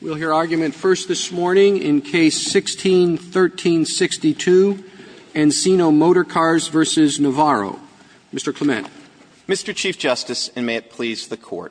We'll hear argument first this morning in Case 16-1362, Encino Motorcars v. Navarro. Mr. Clement. Mr. Chief Justice, and may it please the Court,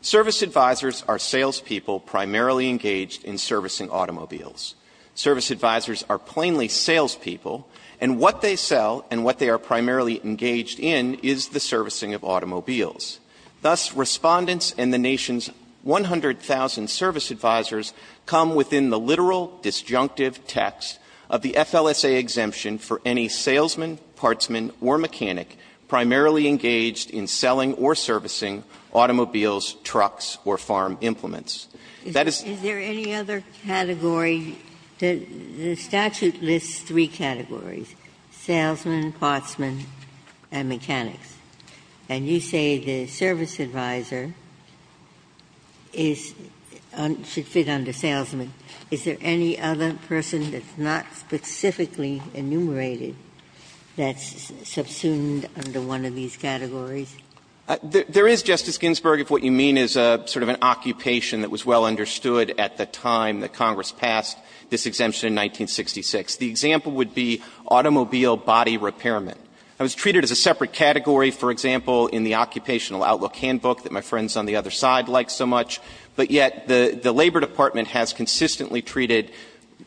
service advisers are salespeople primarily engaged in servicing automobiles. Service advisers are plainly salespeople, and what they sell and what they are primarily engaged in is the servicing of automobiles. Thus, Respondents and the nation's 100,000 service advisers come within the literal, disjunctive text of the FLSA exemption for any salesman, partsman, or mechanic primarily engaged in selling or servicing automobiles, trucks, or farm implements. That is the case. Ginsburg. Is there any other category? The statute lists three categories, salesman, partsman, and mechanics. And you say the service adviser is un – should fit under salesman. Is there any other person that's not specifically enumerated that's subsumed under one of these categories? There is, Justice Ginsburg, if what you mean is a sort of an occupation that was well understood at the time that Congress passed this exemption in 1966. The example would be automobile body repairment. That was treated as a separate category, for example, in the Occupational Outlook Handbook that my friends on the other side like so much. But yet the Labor Department has consistently treated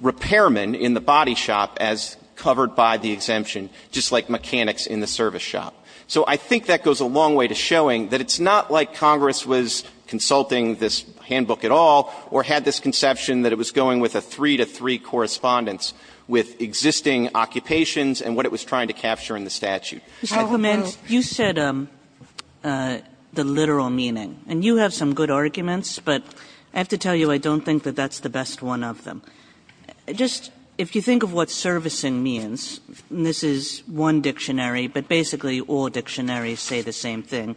repairmen in the body shop as covered by the exemption, just like mechanics in the service shop. So I think that goes a long way to showing that it's not like Congress was consulting this handbook at all or had this conception that it was going with a three-to-three I commend you said the literal meaning, and you have some good arguments, but I have to tell you I don't think that that's the best one of them. Just if you think of what servicing means, and this is one dictionary, but basically all dictionaries say the same thing,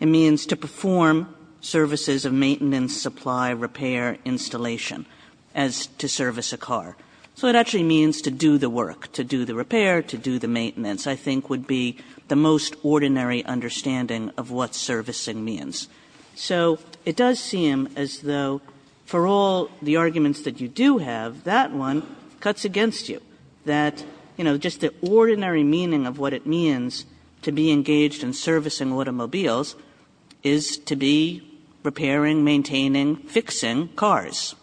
it means to perform services of maintenance, supply, repair, installation as to service a car. So it actually means to do the work, to do the repair, to do the maintenance. I think would be the most ordinary understanding of what servicing means. So it does seem as though for all the arguments that you do have, that one cuts against you, that, you know, just the ordinary meaning of what it means to be engaged in servicing automobiles is to be repairing, maintaining, fixing cars.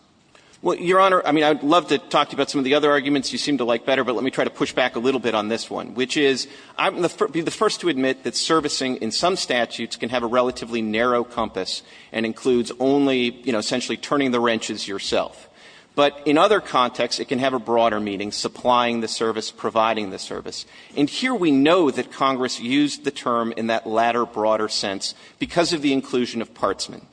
Clements, Jr.: Well, Your Honor, I mean, I would love to talk to you about some of the other arguments you seem to like better, but let me try to push back a little bit on this one, which is I would be the first to admit that servicing in some statutes can have a relatively narrow compass and includes only, you know, essentially turning the wrenches yourself. But in other contexts, it can have a broader meaning, supplying the service, providing the service. And here we know that Congress used the term in that latter, broader sense because of the inclusion of partsmen,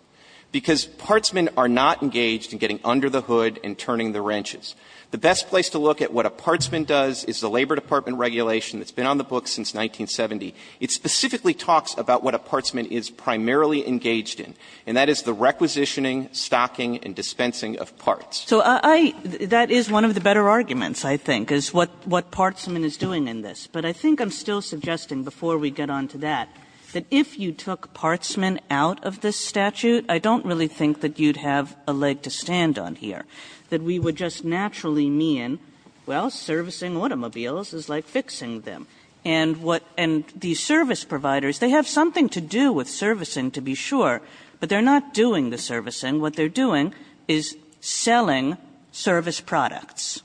because partsmen are not engaged in getting under the hood and turning the wrenches. The best place to look at what a partsman does is the Labor Department regulation that's been on the books since 1970. It specifically talks about what a partsman is primarily engaged in, and that is the requisitioning, stocking and dispensing of parts. Kagan. Kagan. So I – that is one of the better arguments, I think, is what partsman is doing in this. But I think I'm still suggesting before we get on to that, that if you took partsman out of this statute, I don't really think that you'd have a leg to stand on here, that we would just naturally mean, well, servicing automobiles is like fixing them. And what – and these service providers, they have something to do with servicing, to be sure, but they're not doing the servicing. What they're doing is selling service products.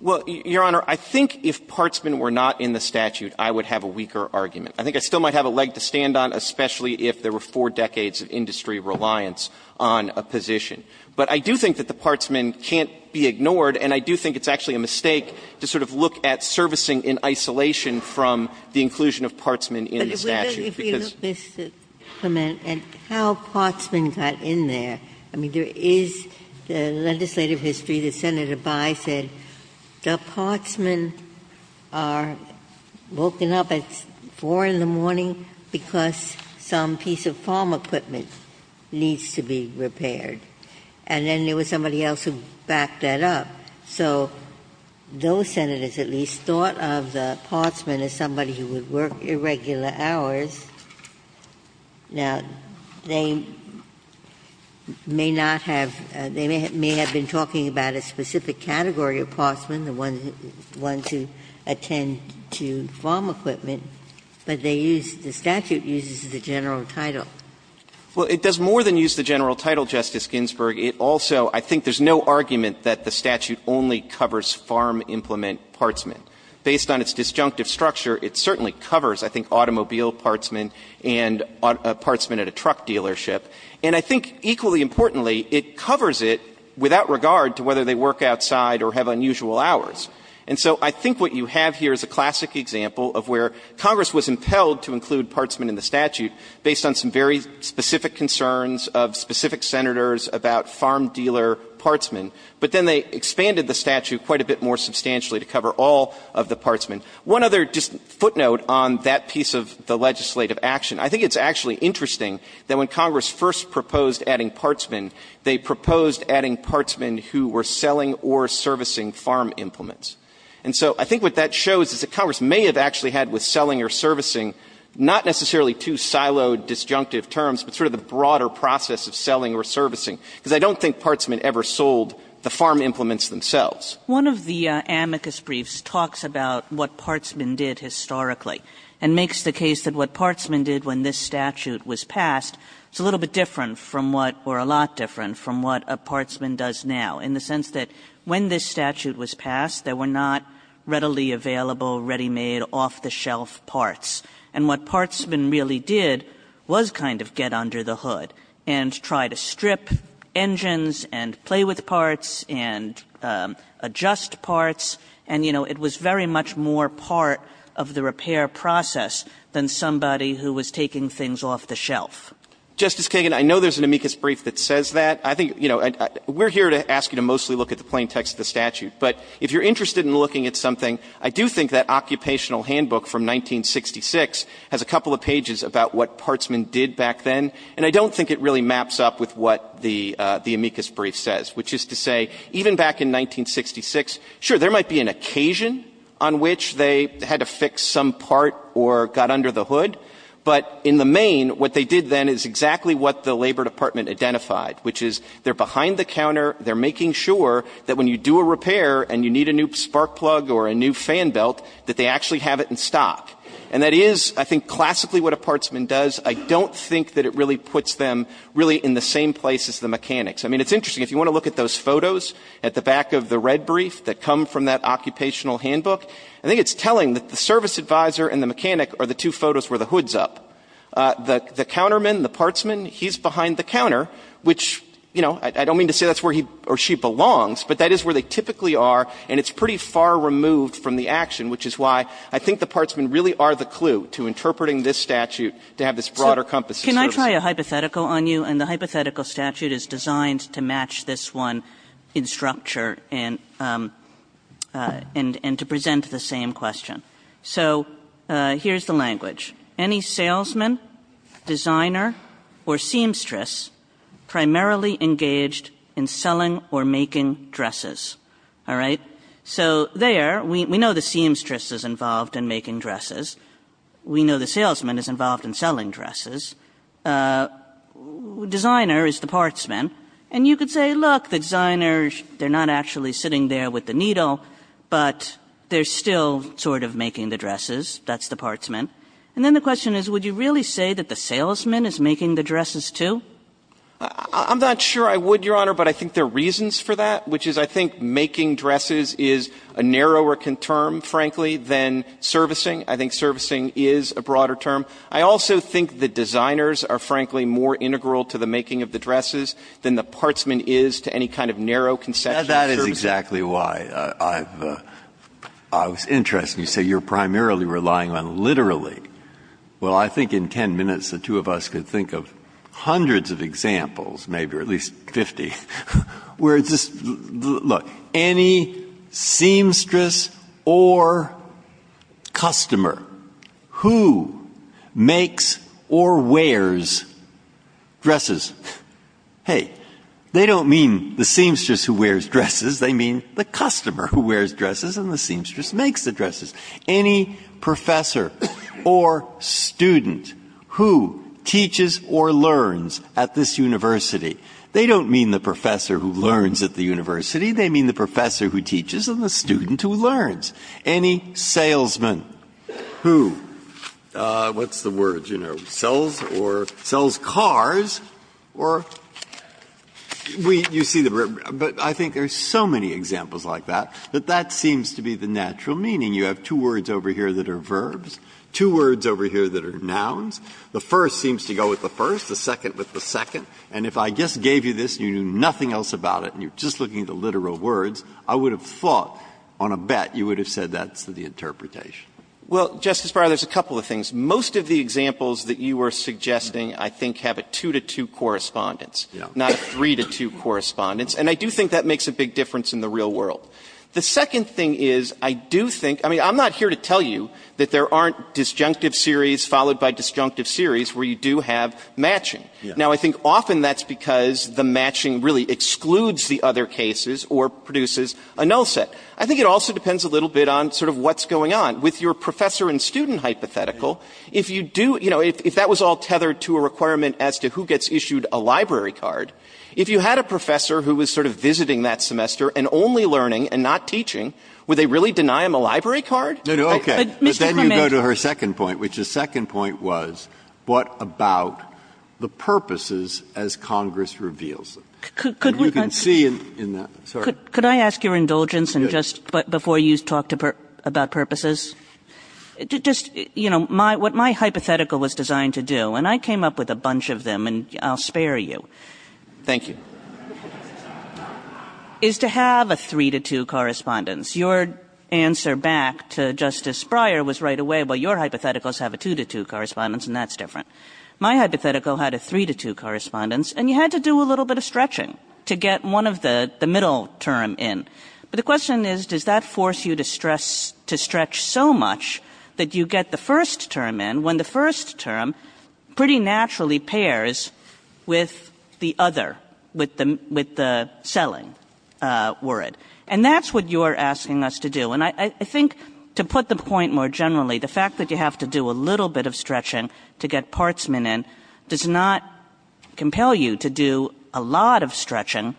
Well, Your Honor, I think if partsmen were not in the statute, I would have a weaker argument. I think I still might have a leg to stand on, especially if there were four decades of industry reliance on a position. But I do think that the partsman can't be ignored, and I do think it's actually a mistake to sort of look at servicing in isolation from the inclusion of partsmen in the statute, because – Ginsburg If we look, Mr. Clement, at how partsmen got in there, I mean, there is the legislative history that Senator Bye said the partsmen are woken up at 4 in the morning because some piece of farm equipment needs to be repaired. And then there was somebody else who backed that up. So those Senators at least thought of the partsman as somebody who would work irregular hours. Now, they may not have – they may have been talking about a specific category of partsman, the ones who attend to farm equipment, but they use – the statute uses the general title. Clement Well, it does more than use the general title, Justice Ginsburg. It also – I think there's no argument that the statute only covers farm implement partsmen. Based on its disjunctive structure, it certainly covers, I think, automobile partsmen and partsmen at a truck dealership. And I think, equally importantly, it covers it without regard to whether they work outside or have unusual hours. And so I think what you have here is a classic example of where Congress was impelled to include partsmen in the statute based on some very specific concerns of specific Senators about farm dealer partsmen, but then they expanded the statute quite a bit more substantially to cover all of the partsmen. One other just footnote on that piece of the legislative action. I think it's actually interesting that when Congress first proposed adding partsmen, they proposed adding partsmen who were selling or servicing farm implements. And so I think what that shows is that Congress may have actually had with selling or servicing not necessarily two siloed disjunctive terms, but sort of the broader process of selling or servicing, because I don't think partsmen ever sold the farm implements themselves. Kagan One of the amicus briefs talks about what partsmen did historically and makes the case that what partsmen did when this statute was passed is a little bit different from what – or a lot different from what a partsman does now, in the sense that when this statute was passed, there were not readily available, ready-made, off-the-shelf parts. And what partsmen really did was kind of get under the hood and try to strip engines and play with parts and adjust parts, and, you know, it was very much more part of the repair process than somebody who was taking things off the shelf. Justice Kagan, I know there's an amicus brief that says that. I think, you know, we're here to ask you to mostly look at the plain text of the statute. But if you're interested in looking at something, I do think that occupational handbook from 1966 has a couple of pages about what partsmen did back then, and I don't think it really maps up with what the amicus brief says, which is to say, even back in 1966, sure, there might be an occasion on which they had to fix some part or got under the hood, but in the main, what they did then is exactly what the Labor Department identified, which is they're behind the counter, they're making sure that when you do a repair and you need a new spark plug or a new fan belt, that they actually have it in stock. And that is, I think, classically what a partsman does. I don't think that it really puts them really in the same place as the mechanics. I mean, it's interesting. If you want to look at those photos at the back of the red brief that come from that occupational handbook, I think it's telling that the service advisor and the mechanic are the two photos where the hood's up. The counterman, the partsman, he's behind the counter, which, you know, I don't mean to say that's where he or she belongs, but that is where they typically are, and it's pretty far removed from the action, which is why I think the partsmen really are the clue to interpreting this statute to have this broader compass of service. Kagan. Kagan. So can I try a hypothetical on you? And the hypothetical statute is designed to match this one in structure and to present the same question. So here's the language. Any salesman, designer, or seamstress primarily engaged in selling or making dresses? All right? So there, we know the seamstress is involved in making dresses. We know the salesman is involved in selling dresses. Designer is the partsman. And you could say, look, the designers, they're not actually sitting there with the needle, but they're still sort of making the dresses. That's the partsman. And then the question is, would you really say that the salesman is making the dresses, too? I'm not sure I would, Your Honor, but I think there are reasons for that, which is I think making dresses is a narrower term, frankly, than servicing. I think servicing is a broader term. I also think the designers are, frankly, more integral to the making of the dresses than the partsman is to any kind of narrow conception of servicing. That's exactly why I was interested when you say you're primarily relying on literally. Well, I think in 10 minutes, the two of us could think of hundreds of examples, maybe or at least 50, where it's just, look, any seamstress or customer who makes or wears dresses, hey, they don't mean the seamstress who wears dresses. They mean the customer who wears dresses and the seamstress makes the dresses. Any professor or student who teaches or learns at this university, they don't mean the professor who learns at the university. They mean the professor who teaches and the student who learns. Any salesman who, what's the word, you know, sells or sells cars or we see the word. But I think there's so many examples like that, that that seems to be the natural meaning. You have two words over here that are verbs, two words over here that are nouns. The first seems to go with the first, the second with the second. And if I just gave you this and you knew nothing else about it and you're just looking at the literal words, I would have thought on a bet you would have said that's the interpretation. Well, Justice Breyer, there's a couple of things. Most of the examples that you were suggesting, I think, have a two-to-two correspondence, not a three-to-two correspondence. And I do think that makes a big difference in the real world. The second thing is, I do think, I mean, I'm not here to tell you that there aren't disjunctive series followed by disjunctive series where you do have matching. Now, I think often that's because the matching really excludes the other cases or produces a null set. I think it also depends a little bit on sort of what's going on. With your professor and student hypothetical, if you do, you know, if that was all tethered to a requirement as to who gets issued a library card, if you had a professor who was sort of visiting that semester and only learning and not teaching, would they really deny him a library card? No, no, okay. But then you go to her second point, which the second point was, what about the purposes as Congress reveals them? You can see in that, sorry. Could I ask your indulgence, and just before you talk about purposes, just, you know, what my hypothetical was designed to do, and I came up with a bunch of them, and I'll spare you. Thank you. Is to have a three to two correspondence. Your answer back to Justice Breyer was right away, well, your hypotheticals have a two to two correspondence, and that's different. My hypothetical had a three to two correspondence, and you had to do a little bit of stretching to get one of the middle term in. But the question is, does that force you to stretch so much that you get the first term in when the first term pretty naturally pairs with the other, with the other. With the selling word. And that's what you're asking us to do. And I think to put the point more generally, the fact that you have to do a little bit of stretching to get partsman in does not compel you to do a lot of stretching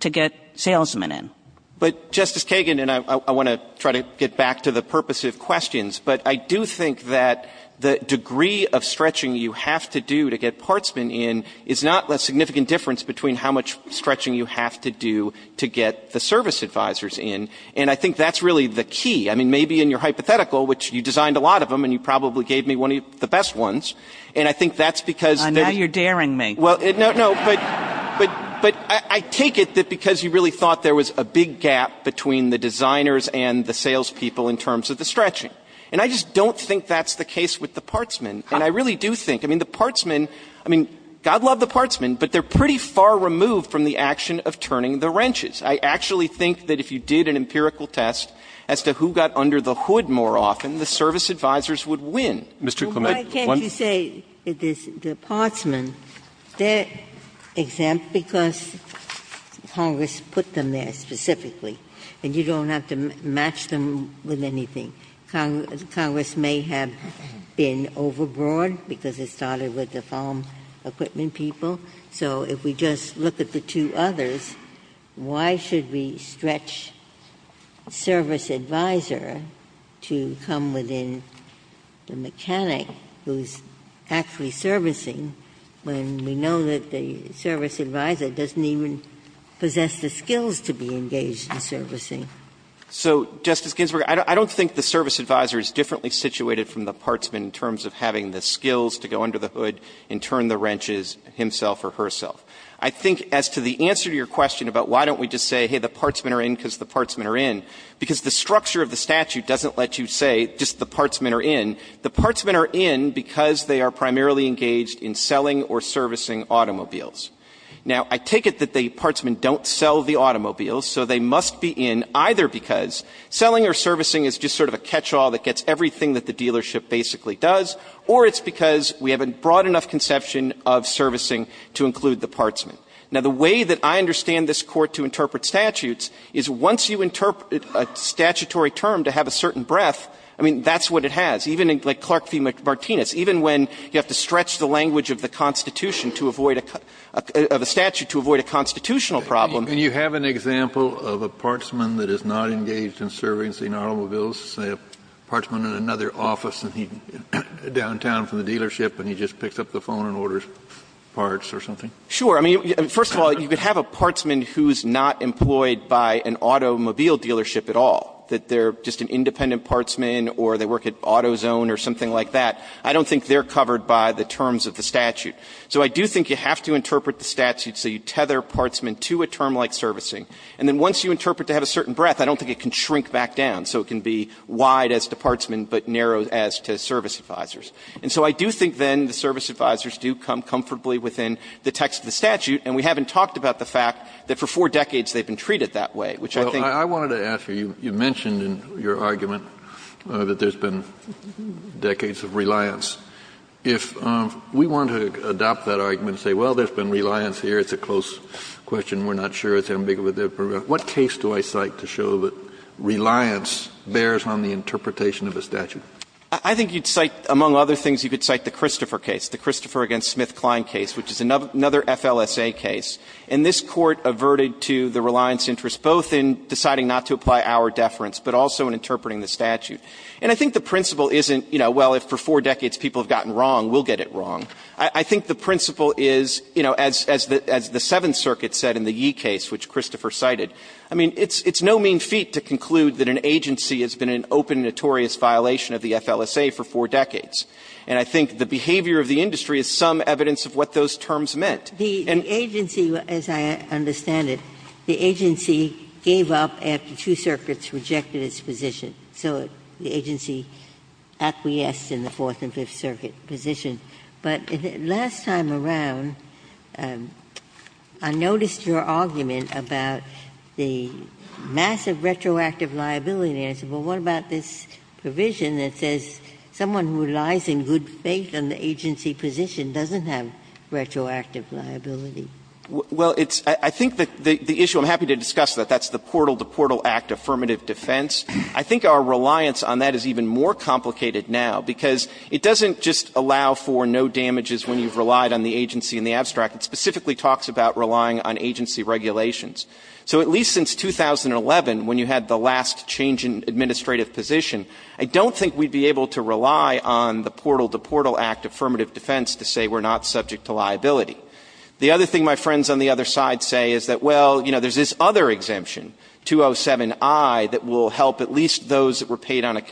to get salesman in. But, Justice Kagan, and I want to try to get back to the purpose of questions, but I do think that the degree of stretching you have to do to get partsman in is not a significant difference between how much stretching you have to do to get the service advisors in. And I think that's really the key. I mean, maybe in your hypothetical, which you designed a lot of them, and you probably gave me one of the best ones. And I think that's because... Now you're daring me. Well, no, but I take it that because you really thought there was a big gap between the designers and the salespeople in terms of the stretching. And I just don't think that's the case with the partsman. And I really do think. I mean, the partsman, I mean, God love the partsman, but they're pretty far removed from the action of turning the wrenches. I actually think that if you did an empirical test as to who got under the hood more often, the service advisors would win. Mr. Clement, one... Ginsburg. Why can't you say the partsman, they're exempt because Congress put them there specifically, and you don't have to match them with anything. I mean, Congress may have been overbroad because it started with the farm equipment people. So if we just look at the two others, why should we stretch service advisor to come within the mechanic who's actually servicing when we know that the service advisor doesn't even possess the skills to be engaged in servicing? So, Justice Ginsburg, I don't think the service advisor is differently situated from the partsman in terms of having the skills to go under the hood and turn the wrenches himself or herself. I think as to the answer to your question about why don't we just say, hey, the partsman are in because the partsman are in, because the structure of the statute doesn't let you say just the partsmen are in. The partsmen are in because they are primarily engaged in selling or servicing automobiles. Now, I take it that the partsmen don't sell the automobiles, so they must be in either because selling or servicing is just sort of a catchall that gets everything that the dealership basically does, or it's because we haven't brought enough conception of servicing to include the partsmen. Now, the way that I understand this Court to interpret statutes is once you interpret a statutory term to have a certain breadth, I mean, that's what it has. Even in, like, Clark v. Martinez, even when you have to stretch the language of the statute to avoid a constitutional problem. Kennedy, you have an example of a partsman that is not engaged in servicing automobiles, say a partsman in another office in downtown from the dealership and he just picks up the phone and orders parts or something? Sure. I mean, first of all, you could have a partsman who's not employed by an automobile dealership at all, that they're just an independent partsman or they work at AutoZone or something like that. I don't think they're covered by the terms of the statute. So I do think you have to interpret the statute so you tether partsmen to a term like servicing. And then once you interpret to have a certain breadth, I don't think it can shrink back down, so it can be wide as to partsmen but narrow as to service advisors. And so I do think then the service advisors do come comfortably within the text of the statute, and we haven't talked about the fact that for four decades they've been treated that way, which I think the Court has. Kennedy, I wanted to ask you, you mentioned in your argument that there's been decades of reliance. If we want to adopt that argument and say, well, there's been reliance here, it's a close question, we're not sure, it's ambiguous, what case do I cite to show that reliance bears on the interpretation of a statute? I think you'd cite, among other things, you could cite the Christopher case, the Christopher v. SmithKline case, which is another FLSA case. And this Court averted to the reliance interest, both in deciding not to apply our deference, but also in interpreting the statute. And I think the principle isn't, you know, well, if for four decades people have gotten wrong, we'll get it wrong. I think the principle is, you know, as the Seventh Circuit said in the Yee case, which Christopher cited, I mean, it's no mean feat to conclude that an agency has been an open, notorious violation of the FLSA for four decades. And I think the behavior of the industry is some evidence of what those terms meant. And the agency, as I understand it, the agency gave up after two circuits rejected its position. So the agency acquiesced in the Fourth and Fifth Circuit position. But last time around, I noticed your argument about the massive retroactive liability, and I said, well, what about this provision that says someone who relies in good faith on the agency position doesn't have retroactive liability? Well, it's – I think the issue, I'm happy to discuss that, that's the portal-to-portal act affirmative defense. I think our reliance on that is even more complicated now, because it doesn't just allow for no damages when you've relied on the agency in the abstract. It specifically talks about relying on agency regulations. So at least since 2011, when you had the last change in administrative position, I don't think we'd be able to rely on the portal-to-portal act affirmative defense to say we're not subject to liability. The other thing my friends on the other side say is that, well, you know, there's this other exemption, 207i, that will help at least those that were paid on a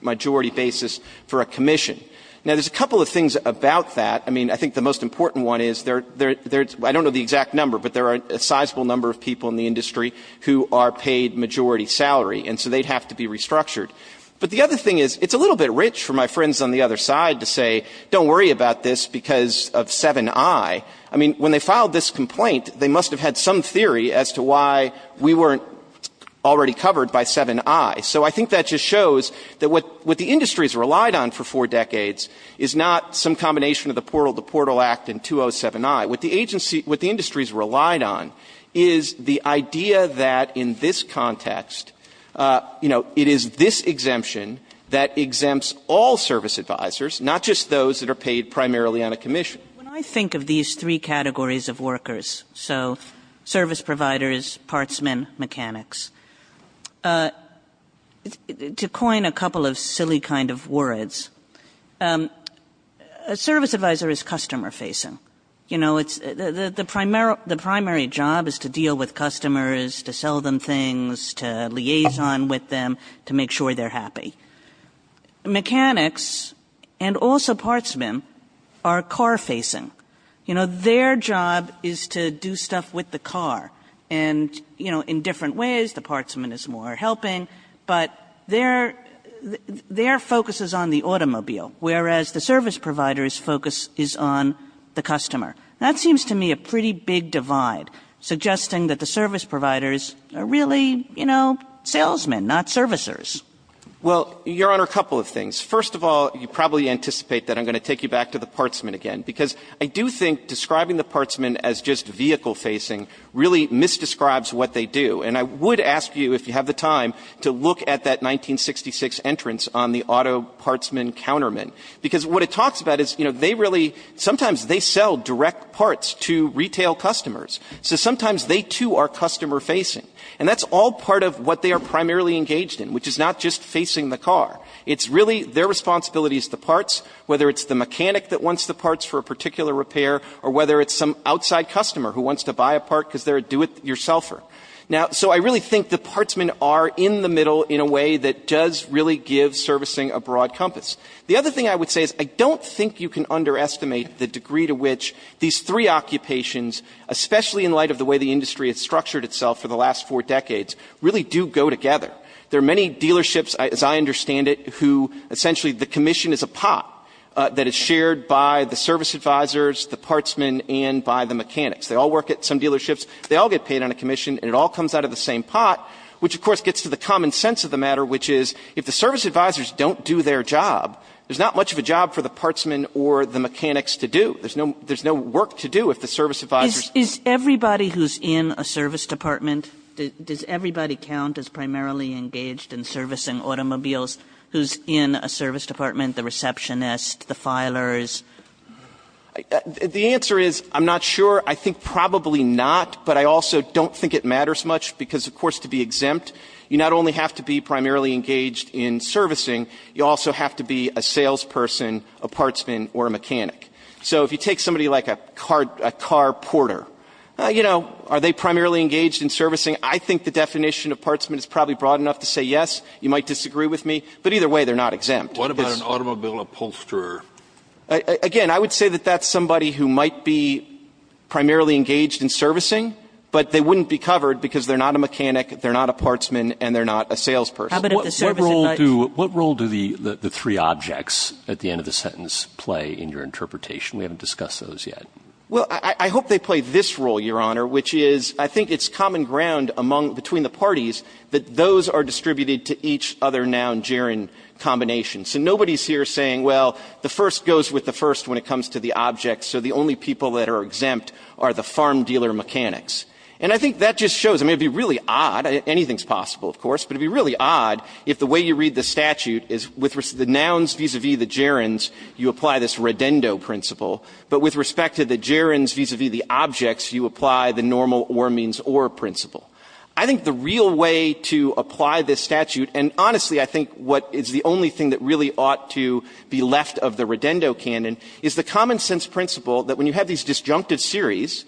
majority basis for a commission. Now, there's a couple of things about that. I mean, I think the most important one is there's – I don't know the exact number, but there are a sizable number of people in the industry who are paid majority salary, and so they'd have to be restructured. But the other thing is it's a little bit rich for my friends on the other side to say don't worry about this because of 7i. I mean, when they filed this complaint, they must have had some theory as to why we weren't already covered by 7i. So I think that just shows that what the industry has relied on for four decades is not some combination of the portal-to-portal act and 207i. What the agency – what the industry has relied on is the idea that in this context, you know, it is this exemption that exempts all service advisors, not just those that are paid primarily on a commission. When I think of these three categories of workers, so service providers, partsmen, mechanics, to coin a couple of silly kind of words, a service advisor is customer-facing. You know, it's – the primary job is to deal with customers, to sell them things, to liaison with them, to make sure they're happy. Mechanics and also partsmen are car-facing. You know, their job is to do stuff with the car. And, you know, in different ways, the partsman is more helping, but their – their focus is on the automobile, whereas the service provider's focus is on the customer. That seems to me a pretty big divide, suggesting that the service providers are really, you know, salesmen, not servicers. Well, Your Honor, a couple of things. First of all, you probably anticipate that I'm going to take you back to the partsman again, because I do think describing the partsman as just vehicle-facing really misdescribes what they do. And I would ask you, if you have the time, to look at that 1966 entrance on the auto partsman counterman, because what it talks about is, you know, they really – sometimes they sell direct parts to retail customers, so sometimes they, too, are customer-facing. And that's all part of what they are primarily engaged in, which is not just facing the car. It's really – their responsibility is the parts, whether it's the mechanic that wants the parts for a particular repair or whether it's some outside customer who wants to buy a part because they're a do-it-yourselfer. Now – so I really think the partsmen are in the middle in a way that does really give servicing a broad compass. The other thing I would say is I don't think you can underestimate the degree to which these three occupations, especially in light of the way the industry has for decades, really do go together. There are many dealerships, as I understand it, who – essentially, the commission is a pot that is shared by the service advisors, the partsmen, and by the mechanics. They all work at some dealerships. They all get paid on a commission, and it all comes out of the same pot, which, of course, gets to the common sense of the matter, which is, if the service advisors don't do their job, there's not much of a job for the partsmen or the mechanics to do. There's no – there's no work to do if the service advisors – Everybody who's in a service department, does everybody count as primarily engaged in servicing automobiles who's in a service department, the receptionist, the filers? The answer is I'm not sure. I think probably not, but I also don't think it matters much because, of course, to be exempt, you not only have to be primarily engaged in servicing, you also have So if you take somebody like a car porter, you know, are they primarily engaged in servicing? I think the definition of partsman is probably broad enough to say yes. You might disagree with me, but either way, they're not exempt. What about an automobile upholsterer? Again, I would say that that's somebody who might be primarily engaged in servicing, but they wouldn't be covered because they're not a mechanic, they're not a partsman, and they're not a salesperson. What role do the three objects at the end of the sentence play in your interpretation? We haven't discussed those yet. Well, I hope they play this role, Your Honor, which is I think it's common ground among the parties that those are distributed to each other noun gerund combination. So nobody's here saying, well, the first goes with the first when it comes to the object, so the only people that are exempt are the farm dealer mechanics. And I think that just shows, I mean, it would be really odd, anything's possible, of course, but it would be really odd if the way you read the statute is with the nouns vis-a-vis the gerunds, you apply this Redendo principle, but with respect to the gerunds vis-a-vis the objects, you apply the normal or means or principle. I think the real way to apply this statute, and honestly, I think what is the only thing that really ought to be left of the Redendo canon is the common sense principle that when you have these disjunctive series,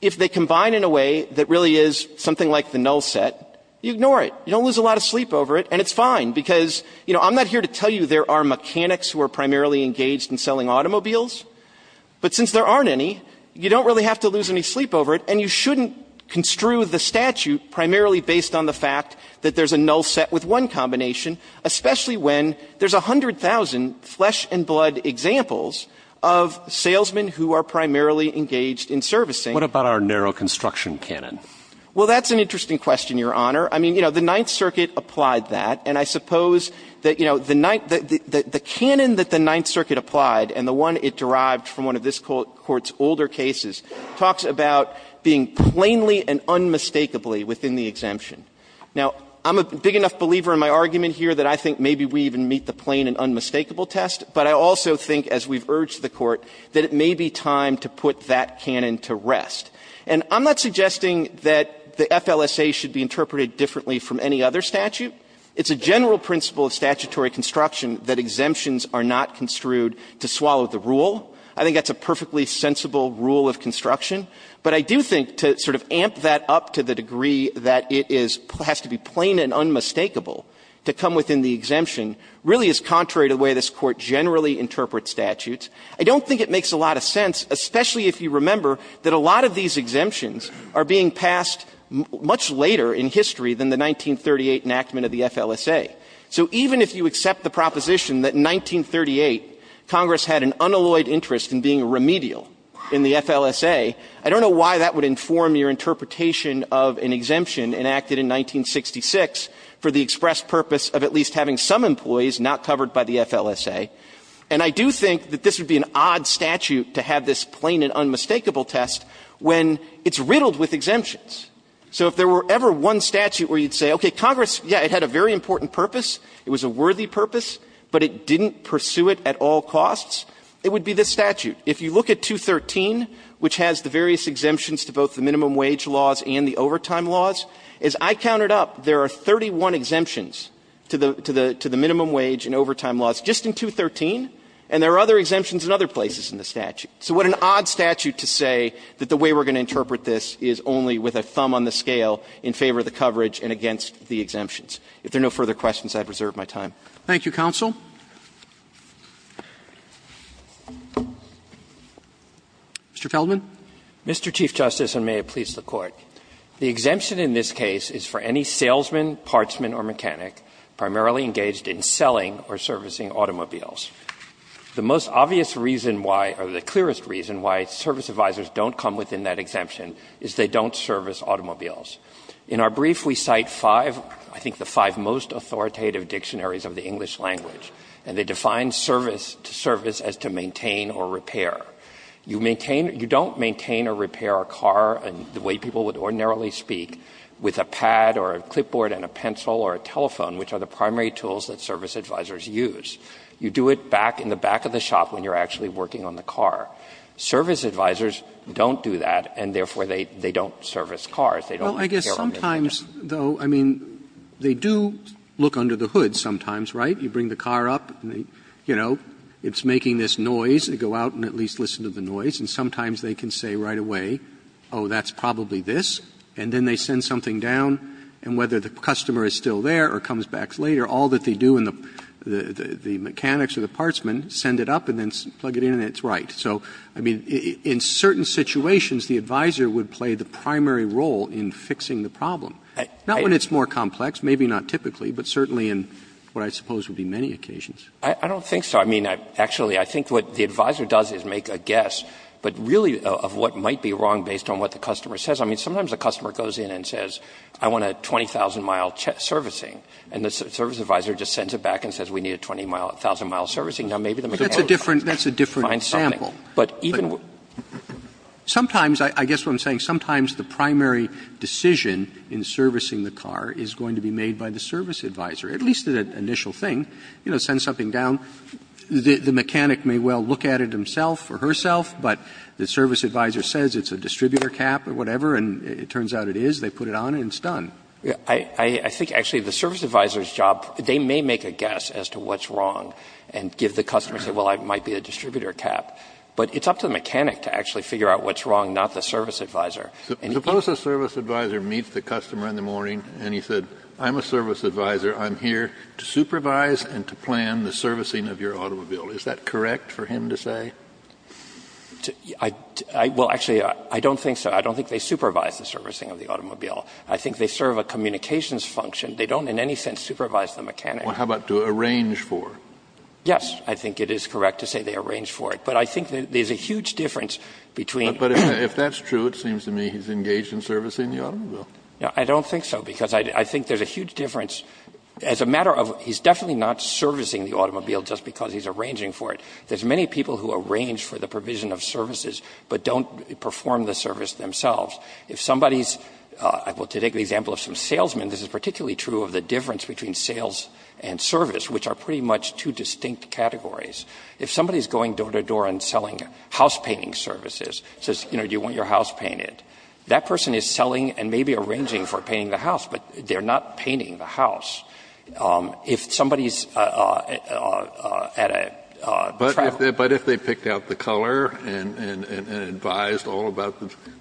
if they combine in a way that really is something like the null set, you ignore it. You don't lose a lot of sleep over it, and it's fine because, you know, I'm not here to tell you there are mechanics who are primarily engaged in selling automobiles, but since there aren't any, you don't really have to lose any sleep over it, and you shouldn't construe the statute primarily based on the fact that there's a null set with one combination, especially when there's 100,000 flesh-and-blood examples of salesmen who are primarily engaged in servicing. What about our narrow construction canon? Well, that's an interesting question, Your Honor. I mean, you know, the Ninth Circuit applied that, and I suppose that, you know, the canon that the Ninth Circuit applied and the one it derived from one of this Court's older cases talks about being plainly and unmistakably within the exemption. Now, I'm a big enough believer in my argument here that I think maybe we even meet the plain and unmistakable test, but I also think, as we've urged the Court, that it may be time to put that canon to rest. And I'm not suggesting that the FLSA should be interpreted differently from any other statute. It's a general principle of statutory construction that exemptions are not construed to swallow the rule. I think that's a perfectly sensible rule of construction, but I do think to sort of amp that up to the degree that it is – has to be plain and unmistakable to come within the exemption really is contrary to the way this Court generally interprets statutes. I don't think it makes a lot of sense, especially if you remember that a lot of these exemptions are being passed much later in history than the 1938 enactment of the FLSA. So even if you accept the proposition that in 1938 Congress had an unalloyed interest in being remedial in the FLSA, I don't know why that would inform your interpretation of an exemption enacted in 1966 for the express purpose of at least having some employees not covered by the FLSA. And I do think that this would be an odd statute to have this plain and unmistakable test when it's riddled with exemptions. So if there were ever one statute where you'd say, okay, Congress, yeah, it had a very important purpose, it was a worthy purpose, but it didn't pursue it at all costs, it would be this statute. If you look at 213, which has the various exemptions to both the minimum wage laws and the overtime laws, as I counted up, there are 31 exemptions to the minimum wage and overtime laws just in 213, and there are other exemptions in other places in the statute. So what an odd statute to say that the way we're going to interpret this is only with a thumb on the scale in favor of the coverage and against the exemptions. If there are no further questions, I have reserved my time. Thank you, counsel. Mr. Feldman. Feldman Mr. Chief Justice, and may it please the Court. The exemption in this case is for any salesman, partsman, or mechanic primarily engaged in selling or servicing automobiles. The most obvious reason why, or the clearest reason why service advisors don't come within that exemption is they don't service automobiles. In our brief, we cite five, I think the five most authoritative dictionaries of the English language, and they define service to service as to maintain or repair. You maintain or you don't maintain or repair a car the way people would ordinarily speak with a pad or a clipboard and a pencil or a telephone, which are the primary tools that service advisors use. You do it back in the back of the shop when you're actually working on the car. Service advisors don't do that, and therefore they don't service cars. They don't repair automobiles. Roberts Well, I guess sometimes, though, I mean, they do look under the hood sometimes, right? You bring the car up, you know, it's making this noise, they go out and at least listen to the noise, and sometimes they can say right away, oh, that's probably this, and then they send something down, and whether the customer is still there or comes back later, all that they do in the mechanics or the partsman, send it up and then plug it in, and it's right. So, I mean, in certain situations, the advisor would play the primary role in fixing the problem. Not when it's more complex, maybe not typically, but certainly in what I suppose would be many occasions. I don't think so. I mean, actually, I think what the advisor does is make a guess, but really of what might be wrong based on what the customer says. I mean, sometimes the customer goes in and says, I want a 20,000-mile servicing, and the service advisor just sends it back and says, we need a 20,000-mile servicing. Now, maybe the mechanic will find something, but even with the car, it's not a problem. Roberts Sometimes, I guess what I'm saying, sometimes the primary decision in servicing the car is going to be made by the service advisor, at least the initial thing. You know, send something down. The mechanic may well look at it himself or herself, but the service advisor says it's a distributor cap or whatever, and it turns out it is. They put it on, and it's done. Kneedler I think, actually, the service advisor's job, they may make a guess as to what's wrong and give the customer, say, well, it might be a distributor cap. But it's up to the mechanic to actually figure out what's wrong, not the service advisor. Kennedy Suppose the service advisor meets the customer in the morning, and he said, I'm a service advisor. I'm here to supervise and to plan the servicing of your automobile. Is that correct for him to say? Kneedler Well, actually, I don't think so. I don't think they supervise the servicing of the automobile. I think they serve a communications function. They don't, in any sense, supervise the mechanic. Kennedy Well, how about to arrange for? Kneedler Yes, I think it is correct to say they arrange for it. But I think there's a huge difference between the two. But if that's true, it seems to me he's engaged in servicing the automobile. Kneedler I don't think so, because I think there's a huge difference. As a matter of he's definitely not servicing the automobile just because he's arranging for it. There's many people who arrange for the provision of services, but don't perform the service themselves. If somebody's – well, to take the example of some salesmen, this is particularly true of the difference between sales and service, which are pretty much two distinct categories. If somebody's going door to door and selling house painting services, says, you know, do you want your house painted, that person is selling and maybe arranging for painting the house, but they're not painting the house. If somebody's at a travel – Kennedy But if they picked out the color and advised all about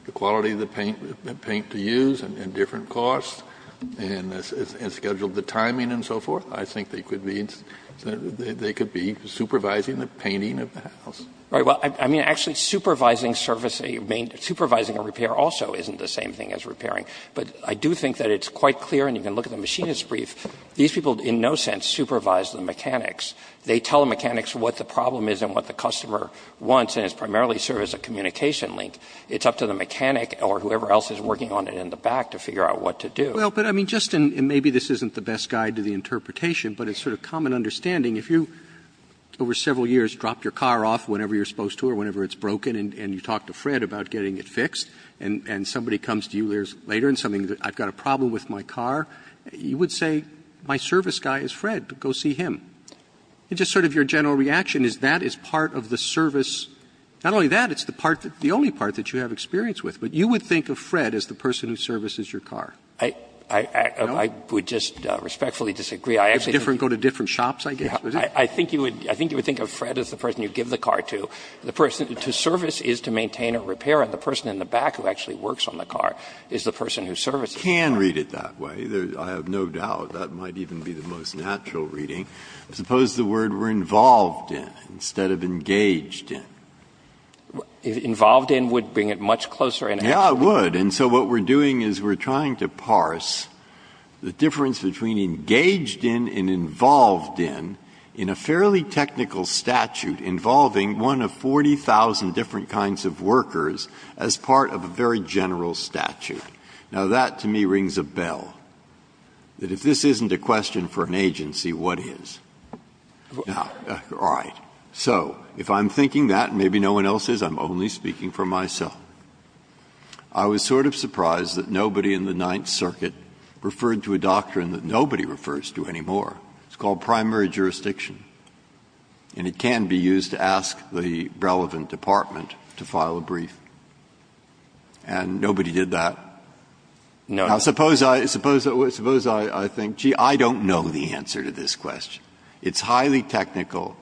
the quality of the paint to use and different costs, and scheduled the timing and so forth, I think they could be – they could be supervising the painting of the house. Kneedler Right. Well, I mean, actually, supervising a repair also isn't the same thing as repairing. But I do think that it's quite clear, and you can look at the machinist brief, these people in no sense supervise the mechanics. They tell the mechanics what the problem is and what the customer wants, and it primarily serves as a communication link. It's up to the mechanic or whoever else is working on it in the back to figure out what to do. Roberts Well, but I mean, just – and maybe this isn't the best guide to the interpretation, but it's sort of common understanding. If you, over several years, drop your car off whenever you're supposed to or whenever it's broken, and you talk to Fred about getting it fixed, and somebody comes to you later and says, I've got a problem with my car, you would say, my service guy is Fred. Go see him. It's just sort of your general reaction is that is part of the service. Not only that, it's the part that – the only part that you have experience with. But you would think of Fred as the person who services your car. Kneedler I would just respectfully disagree. I actually think you would think of Fred as the person you give the car to. The person to service is to maintain a repair, and the person in the back who actually works on the car is the person who services the car. Breyer I can read it that way. I have no doubt that might even be the most natural reading. Suppose the word were involved in instead of engaged in. Kneedler Involved in would bring it much closer in. Breyer Yeah, it would. And so what we're doing is we're trying to parse the difference between engaged in and involved in in a fairly technical statute involving one of 40,000 different kinds of workers as part of a very general statute. Now, that to me rings a bell, that if this isn't a question for an agency, what is? Now, all right. So if I'm thinking that and maybe no one else is, I'm only speaking for myself. I was sort of surprised that nobody in the Ninth Circuit referred to a doctrine that nobody refers to anymore. It's called primary jurisdiction. And it can be used to ask the relevant department to file a brief. And nobody did that. Now, suppose I think, gee, I don't know the answer to this question. It's highly technical.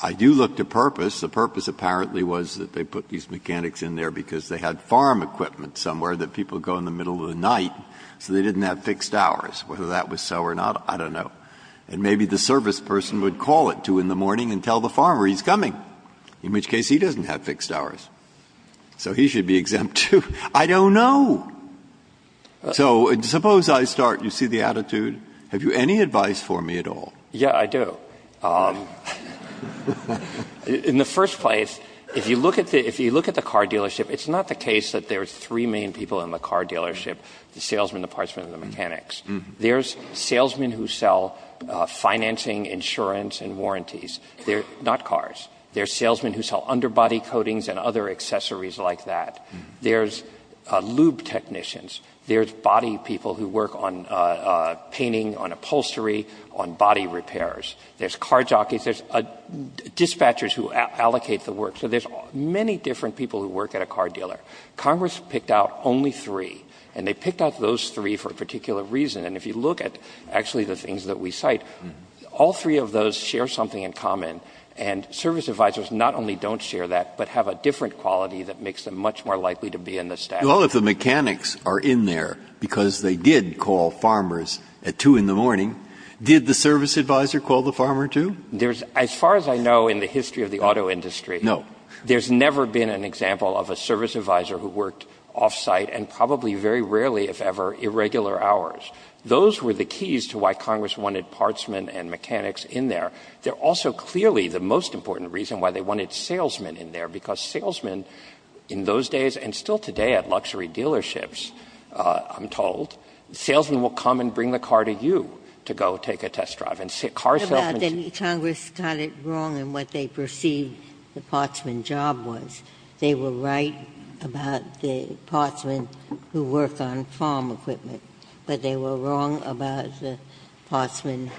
I do look to purpose. The purpose apparently was that they put these mechanics in there because they had farm equipment somewhere that people go in the middle of the night so they didn't have fixed hours. Whether that was so or not, I don't know. And maybe the service person would call it 2 in the morning and tell the farmer he's coming, in which case he doesn't have fixed hours. So he should be exempt, too. I don't know. So suppose I start. You see the attitude. Have you any advice for me at all? Banner. Yeah, I do. In the first place, if you look at the car dealership, it's not the case that there are three main people in the car dealership, the salesman, the partsman, and the mechanics. There's salesmen who sell financing, insurance, and warranties. They're not cars. There's salesmen who sell underbody coatings and other accessories like that. There's lube technicians. There's body people who work on painting, on upholstery, on body repairs. There's car jockeys. There's dispatchers who allocate the work. So there's many different people who work at a car dealer. Congress picked out only three, and they picked out those three for a particular reason. And if you look at, actually, the things that we cite, all three of those share something in common. And service advisors not only don't share that, but have a different quality that makes them much more likely to be in the staff. Well, if the mechanics are in there because they did call farmers at 2 in the morning, did the service advisor call the farmer, too? As far as I know in the history of the auto industry, there's never been an example of a service advisor who worked off-site and probably very rarely, if ever, for irregular hours. Those were the keys to why Congress wanted partsmen and mechanics in there. They're also clearly the most important reason why they wanted salesmen in there, because salesmen in those days, and still today at luxury dealerships, I'm told, salesmen will come and bring the car to you to go take a test drive. And car salesmen seem to be more likely to work off-site than salesmen in the factory. Ginsburg. But Congress got it wrong in what they perceived the partsman job was. They were right about the partsman who worked on farm equipment, but they were wrong about the partsman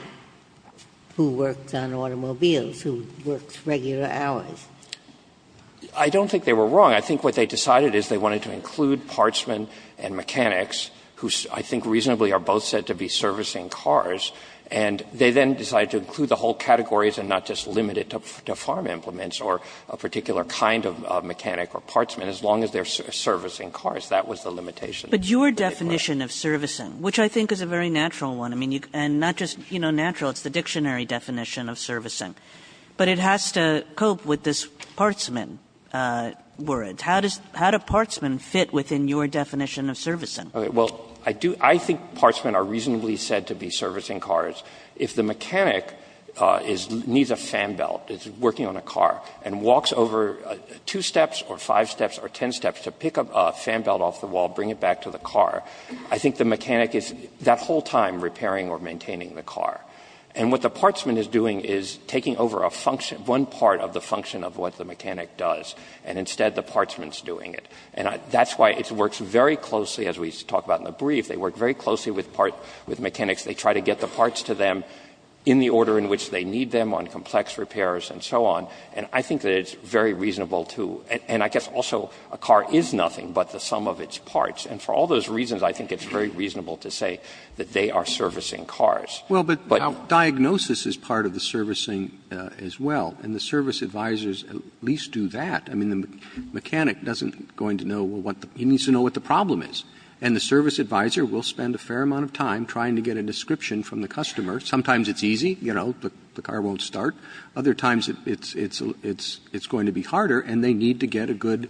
who worked on automobiles, who worked regular hours. I don't think they were wrong. I think what they decided is they wanted to include partsmen and mechanics, who I think reasonably are both said to be servicing cars, and they then decided to include the whole categories and not just limit it to farm implements or a particular kind of mechanic or partsman, as long as they're servicing cars. That was the limitation. Kagan. But your definition of servicing, which I think is a very natural one, I mean, and not just, you know, natural, it's the dictionary definition of servicing, but it has to cope with this partsman word. How does – how do partsmen fit within your definition of servicing? Well, I do – I think partsmen are reasonably said to be servicing cars. If the mechanic is – needs a fan belt, is working on a car, and walks over two steps or five steps or ten steps to pick a fan belt off the wall, bring it back to the car, I think the mechanic is that whole time repairing or maintaining the car. And what the partsman is doing is taking over a function – one part of the function of what the mechanic does, and instead the partsman's doing it. And that's why it works very closely, as we talked about in the brief, they work very closely with mechanics. They try to get the parts to them in the order in which they need them on complex repairs and so on. And I think that it's very reasonable to – and I guess also a car is nothing but the sum of its parts. And for all those reasons, I think it's very reasonable to say that they are servicing cars. But – Well, but diagnosis is part of the servicing as well, and the service advisors at least do that. I mean, the mechanic doesn't go into know what the – he needs to know what the problem is. And the service advisor will spend a fair amount of time trying to get a description from the customer. Sometimes it's easy, you know, the car won't start. Other times it's going to be harder, and they need to get a good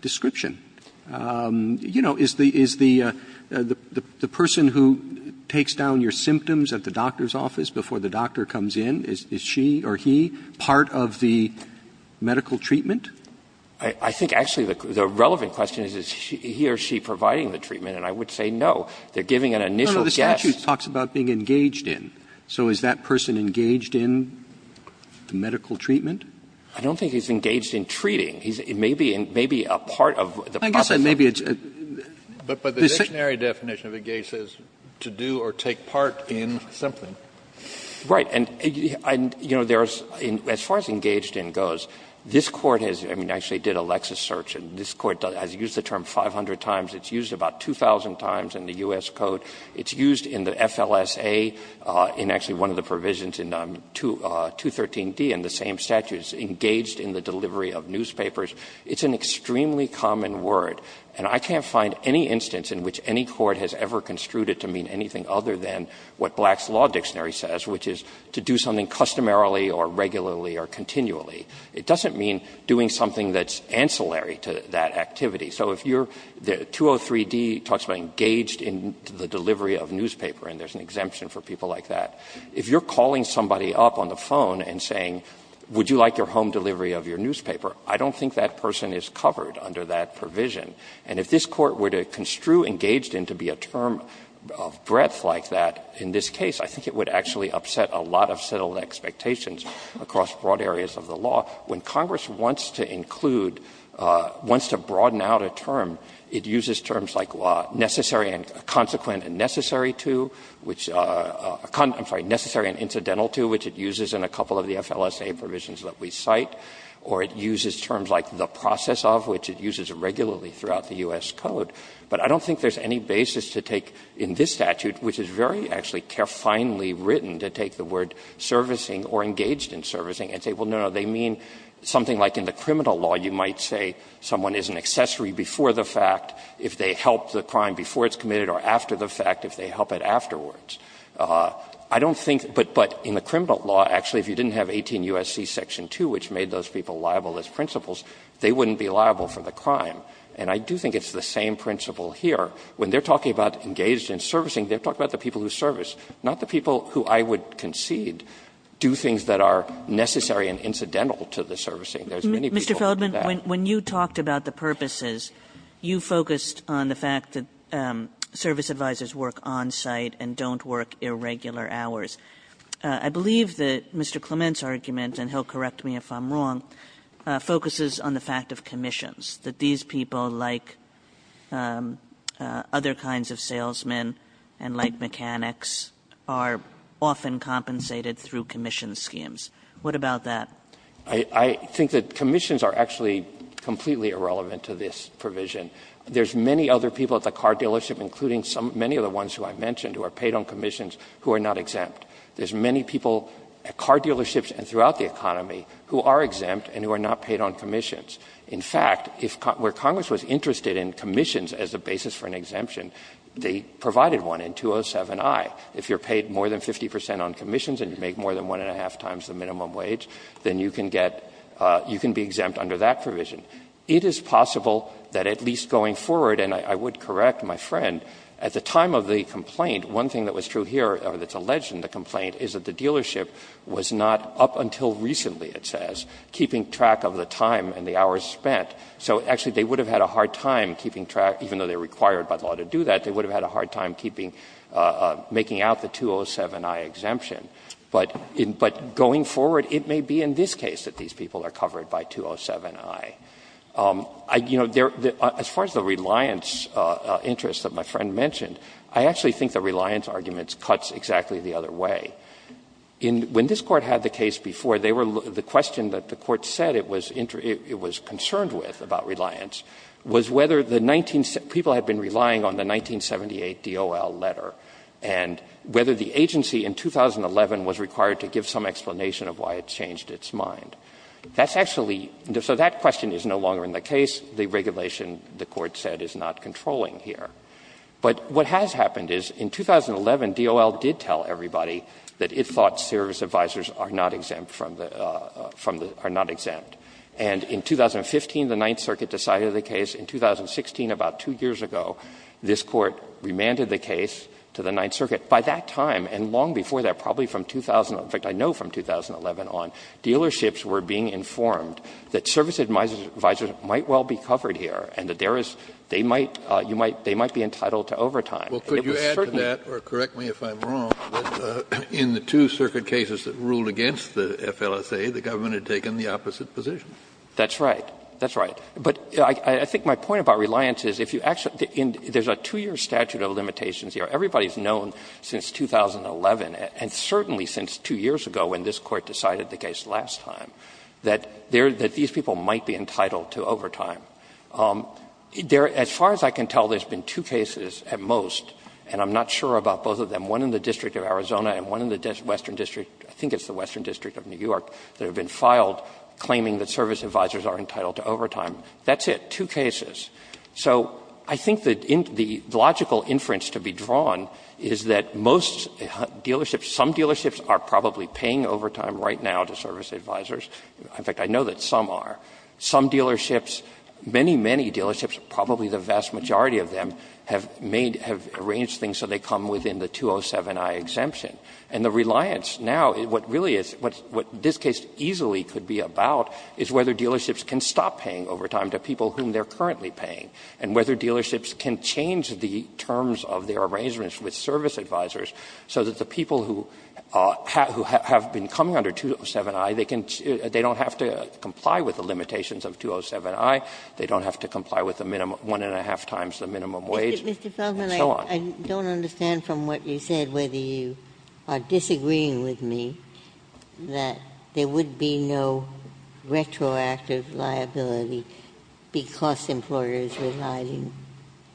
description. You know, is the person who takes down your symptoms at the doctor's office before the doctor comes in, is she or he part of the medical treatment? I think actually the relevant question is, is he or she providing the treatment? And I would say no. They're giving an initial guess. No, no. The statute talks about being engaged in. So is that person engaged in the medical treatment? I don't think he's engaged in treating. He's maybe a part of the process. I guess maybe it's a – But the dictionary definition of engaged is to do or take part in something. Right. And, you know, as far as engaged in goes, this Court has – I mean, actually it did a Lexis search, and this Court has used the term 500 times. It's used about 2,000 times in the U.S. Code. It's used in the FLSA, in actually one of the provisions in 213d in the same statute. It's engaged in the delivery of newspapers. It's an extremely common word. And I can't find any instance in which any court has ever construed it to mean anything other than what Black's Law Dictionary says, which is to do something customarily or regularly or continually. It doesn't mean doing something that's ancillary to that activity. So if you're – 203d talks about engaged in the delivery of newspaper, and there's an exemption for people like that. If you're calling somebody up on the phone and saying, would you like your home delivery of your newspaper, I don't think that person is covered under that provision. And if this Court were to construe engaged in to be a term of breadth like that in this case, I think it would actually upset a lot of settled expectations across broad areas of the law. When Congress wants to include, wants to broaden out a term, it uses terms like necessary and consequent and necessary to, which – I'm sorry, necessary and incidental to, which it uses in a couple of the FLSA provisions that we cite, or it uses terms like the process of, which it uses regularly throughout the U.S. Code. But I don't think there's any basis to take in this statute, which is very actually carefinely written, to take the word servicing or engaged in servicing and say, well, no, no, they mean something like in the criminal law you might say someone is an accessory before the fact if they help the crime before it's committed or after the fact if they help it afterwards. I don't think – but in the criminal law, actually, if you didn't have 18 U.S.C. Section 2, which made those people liable as principals, they wouldn't be liable for the crime. And I do think it's the same principle here. When they're talking about engaged in servicing, they're talking about the people who service, not the people who I would concede do things that are necessary and incidental to the servicing. There is many people who do that. Kagan Mr. Feldman, when you talked about the purposes, you focused on the fact that service advisers work onsite and don't work irregular hours. I believe that Mr. Clement's argument, and he'll correct me if I'm wrong, focuses on the fact of commissions, that these people, like other kinds of salesmen and like mechanics, are often compensated through commission schemes. What about that? Mr. Feldman I think that commissions are actually completely irrelevant to this provision. There's many other people at the car dealership, including many of the ones who I mentioned, who are paid on commissions who are not exempt. There's many people at car dealerships and throughout the economy who are exempt and who are not paid on commissions. In fact, where Congress was interested in commissions as a basis for an exemption, they provided one in 207i. If you're paid more than 50 percent on commissions and you make more than one and a half times the minimum wage, then you can get you can be exempt under that provision. It is possible that at least going forward, and I would correct my friend, at the time of the complaint, one thing that was true here, or that's alleged in the complaint, is that the dealership was not up until recently, it says, keeping track of the time and the hours spent. So actually, they would have had a hard time keeping track, even though they are required by law to do that, they would have had a hard time keeping, making out the 207i exemption. But going forward, it may be in this case that these people are covered by 207i. You know, as far as the reliance interest that my friend mentioned, I actually think the reliance argument cuts exactly the other way. When this Court had the case before, the question that the Court said it was concerned with about reliance was whether the people had been relying on the 1978 D.O.L. letter and whether the agency in 2011 was required to give some explanation of why it changed its mind. That's actually so that question is no longer in the case. The regulation, the Court said, is not controlling here. But what has happened is in 2011, D.O.L. did tell everybody that it thought service advisors are not exempt from the are not exempt. And in 2015, the Ninth Circuit decided the case. In 2016, about two years ago, this Court remanded the case to the Ninth Circuit. By that time, and long before that, probably from 2000, in fact, I know from 2011 on, dealerships were being informed that service advisors might well be covered here and that there is they might, you might, they might be entitled to overtime. Kennedy, could you add to that, or correct me if I'm wrong, that in the two circuit cases that ruled against the FLSA, the government had taken the opposite position? That's right. That's right. But I think my point about reliance is if you actually, there's a two-year statute of limitations here. Everybody's known since 2011, and certainly since two years ago when this Court decided the case last time, that these people might be entitled to overtime. As far as I can tell, there's been two cases at most, and I'm not sure about both of them, one in the District of Arizona and one in the Western District, I think it's the Western District of New York, that have been filed claiming that service advisors are entitled to overtime. That's it, two cases. So I think the logical inference to be drawn is that most dealerships, some dealerships are probably paying overtime right now to service advisors. In fact, I know that some are. Some dealerships, many, many dealerships, probably the vast majority of them, have made, have arranged things so they come within the 207i exemption. And the reliance now, what really is, what this case easily could be about is whether dealerships can stop paying overtime to people whom they're currently paying, and whether dealerships can change the terms of their arrangements with service advisors so that the people who have been coming under 207i, they can, they don't have to comply with the limitations of 207i, they don't have to comply with the minimum, one-and-a-half Ginsburg-Gilmour. I don't understand from what you said whether you are disagreeing with me that there would be no retroactive liability because employers relied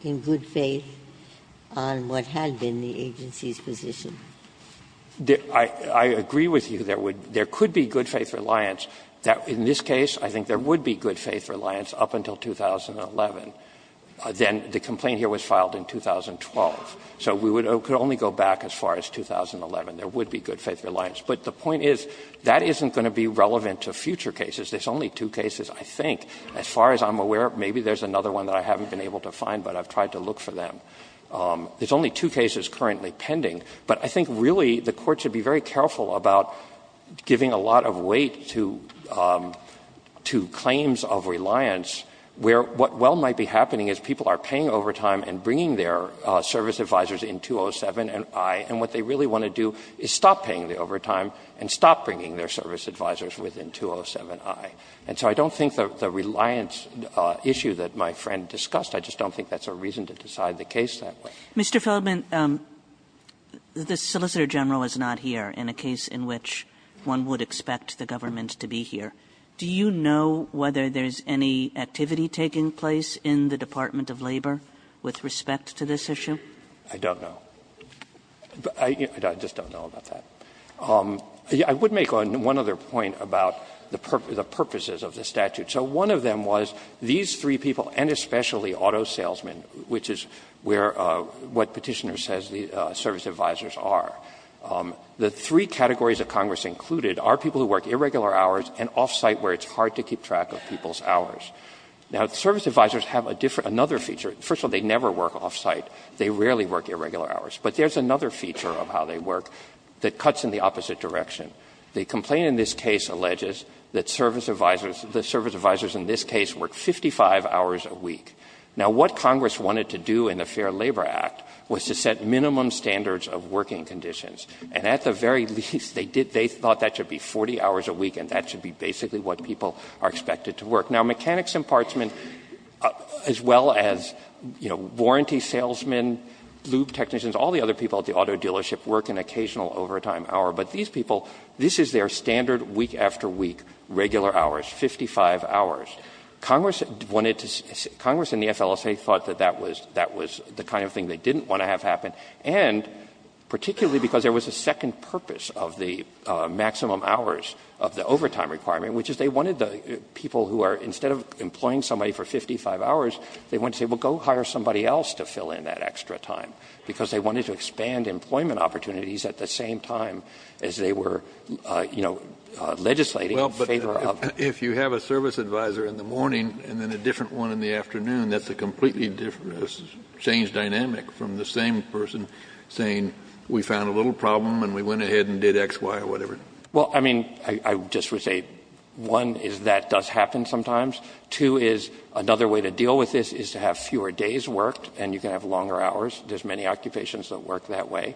in good faith on what had been the agency's position. I agree with you there would, there could be good faith reliance. In this case, I think there would be good faith reliance up until 2011. Then the complaint here was filed in 2012, so we could only go back as far as 2011. There would be good faith reliance. But the point is, that isn't going to be relevant to future cases. There's only two cases, I think. As far as I'm aware, maybe there's another one that I haven't been able to find, but I've tried to look for them. There's only two cases currently pending. But I think really the Court should be very careful about giving a lot of weight to claims of reliance, where what well might be happening is people are paying overtime and bringing their service advisors in 207i, and what they really want to do is stop paying the overtime and stop bringing their service advisors within 207i. And so I don't think the reliance issue that my friend discussed, I just don't think that's a reason to decide the case that way. Kagan Mr. Feldman, the Solicitor General is not here in a case in which one would expect the government to be here. Do you know whether there's any activity taking place in the Department of Labor with respect to this issue? Feldman I don't know. I just don't know about that. I would make one other point about the purposes of the statute. So one of them was these three people, and especially auto salesmen, which is where what Petitioner says the service advisors are. The three categories of Congress included are people who work irregular hours and off-site where it's hard to keep track of people's hours. Now, the service advisors have a different, another feature. First of all, they never work off-site. They rarely work irregular hours. But there's another feature of how they work that cuts in the opposite direction. The complaint in this case alleges that service advisors, the service advisors in this case work 55 hours a week. Now, what Congress wanted to do in the Fair Labor Act was to set minimum standards of working conditions. And at the very least, they did, they thought that should be 40 hours a week and that should be basically what people are expected to work. Now, mechanics and partsmen, as well as, you know, warranty salesmen, lube technicians, all the other people at the auto dealership work an occasional overtime hour. But these people, this is their standard week after week, regular hours, 55 hours. Congress wanted to, Congress and the FLSA thought that that was, that was the kind of thing they didn't want to have happen. And particularly because there was a second purpose of the maximum hours of the overtime requirement, which is they wanted the people who are, instead of employing somebody for 55 hours, they wanted to say, well, go hire somebody else to fill in that extra time. Because they wanted to expand employment opportunities at the same time as they were, you know, legislating in favor of. JUSTICE KENNEDY If you have a service advisor in the morning and then a different one in the afternoon, that's a completely different, a changed dynamic from the same person saying, we found a little problem and we went ahead and did X, Y, or whatever. MR. CLEMENT Well, I mean, I just would say, one, is that does happen sometimes. Two is, another way to deal with this is to have fewer days worked and you can have longer hours. There's many occupations that work that way.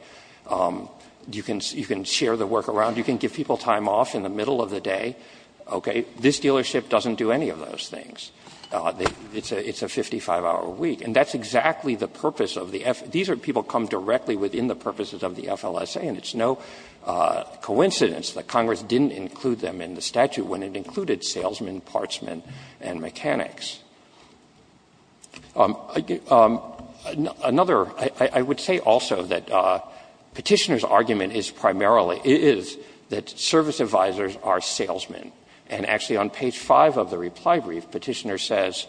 You can share the work around. You can give people time off in the middle of the day. Okay. This dealership doesn't do any of those things. It's a 55-hour week. And that's exactly the purpose of the FLSA. These are people who come directly within the purposes of the FLSA, and it's no coincidence that Congress didn't include them in the statute when it included salesmen, partsmen, and mechanics. Another, I would say also that Petitioner's argument is primarily, is that service advisors are salesmen. And actually on page 5 of the reply brief, Petitioner says,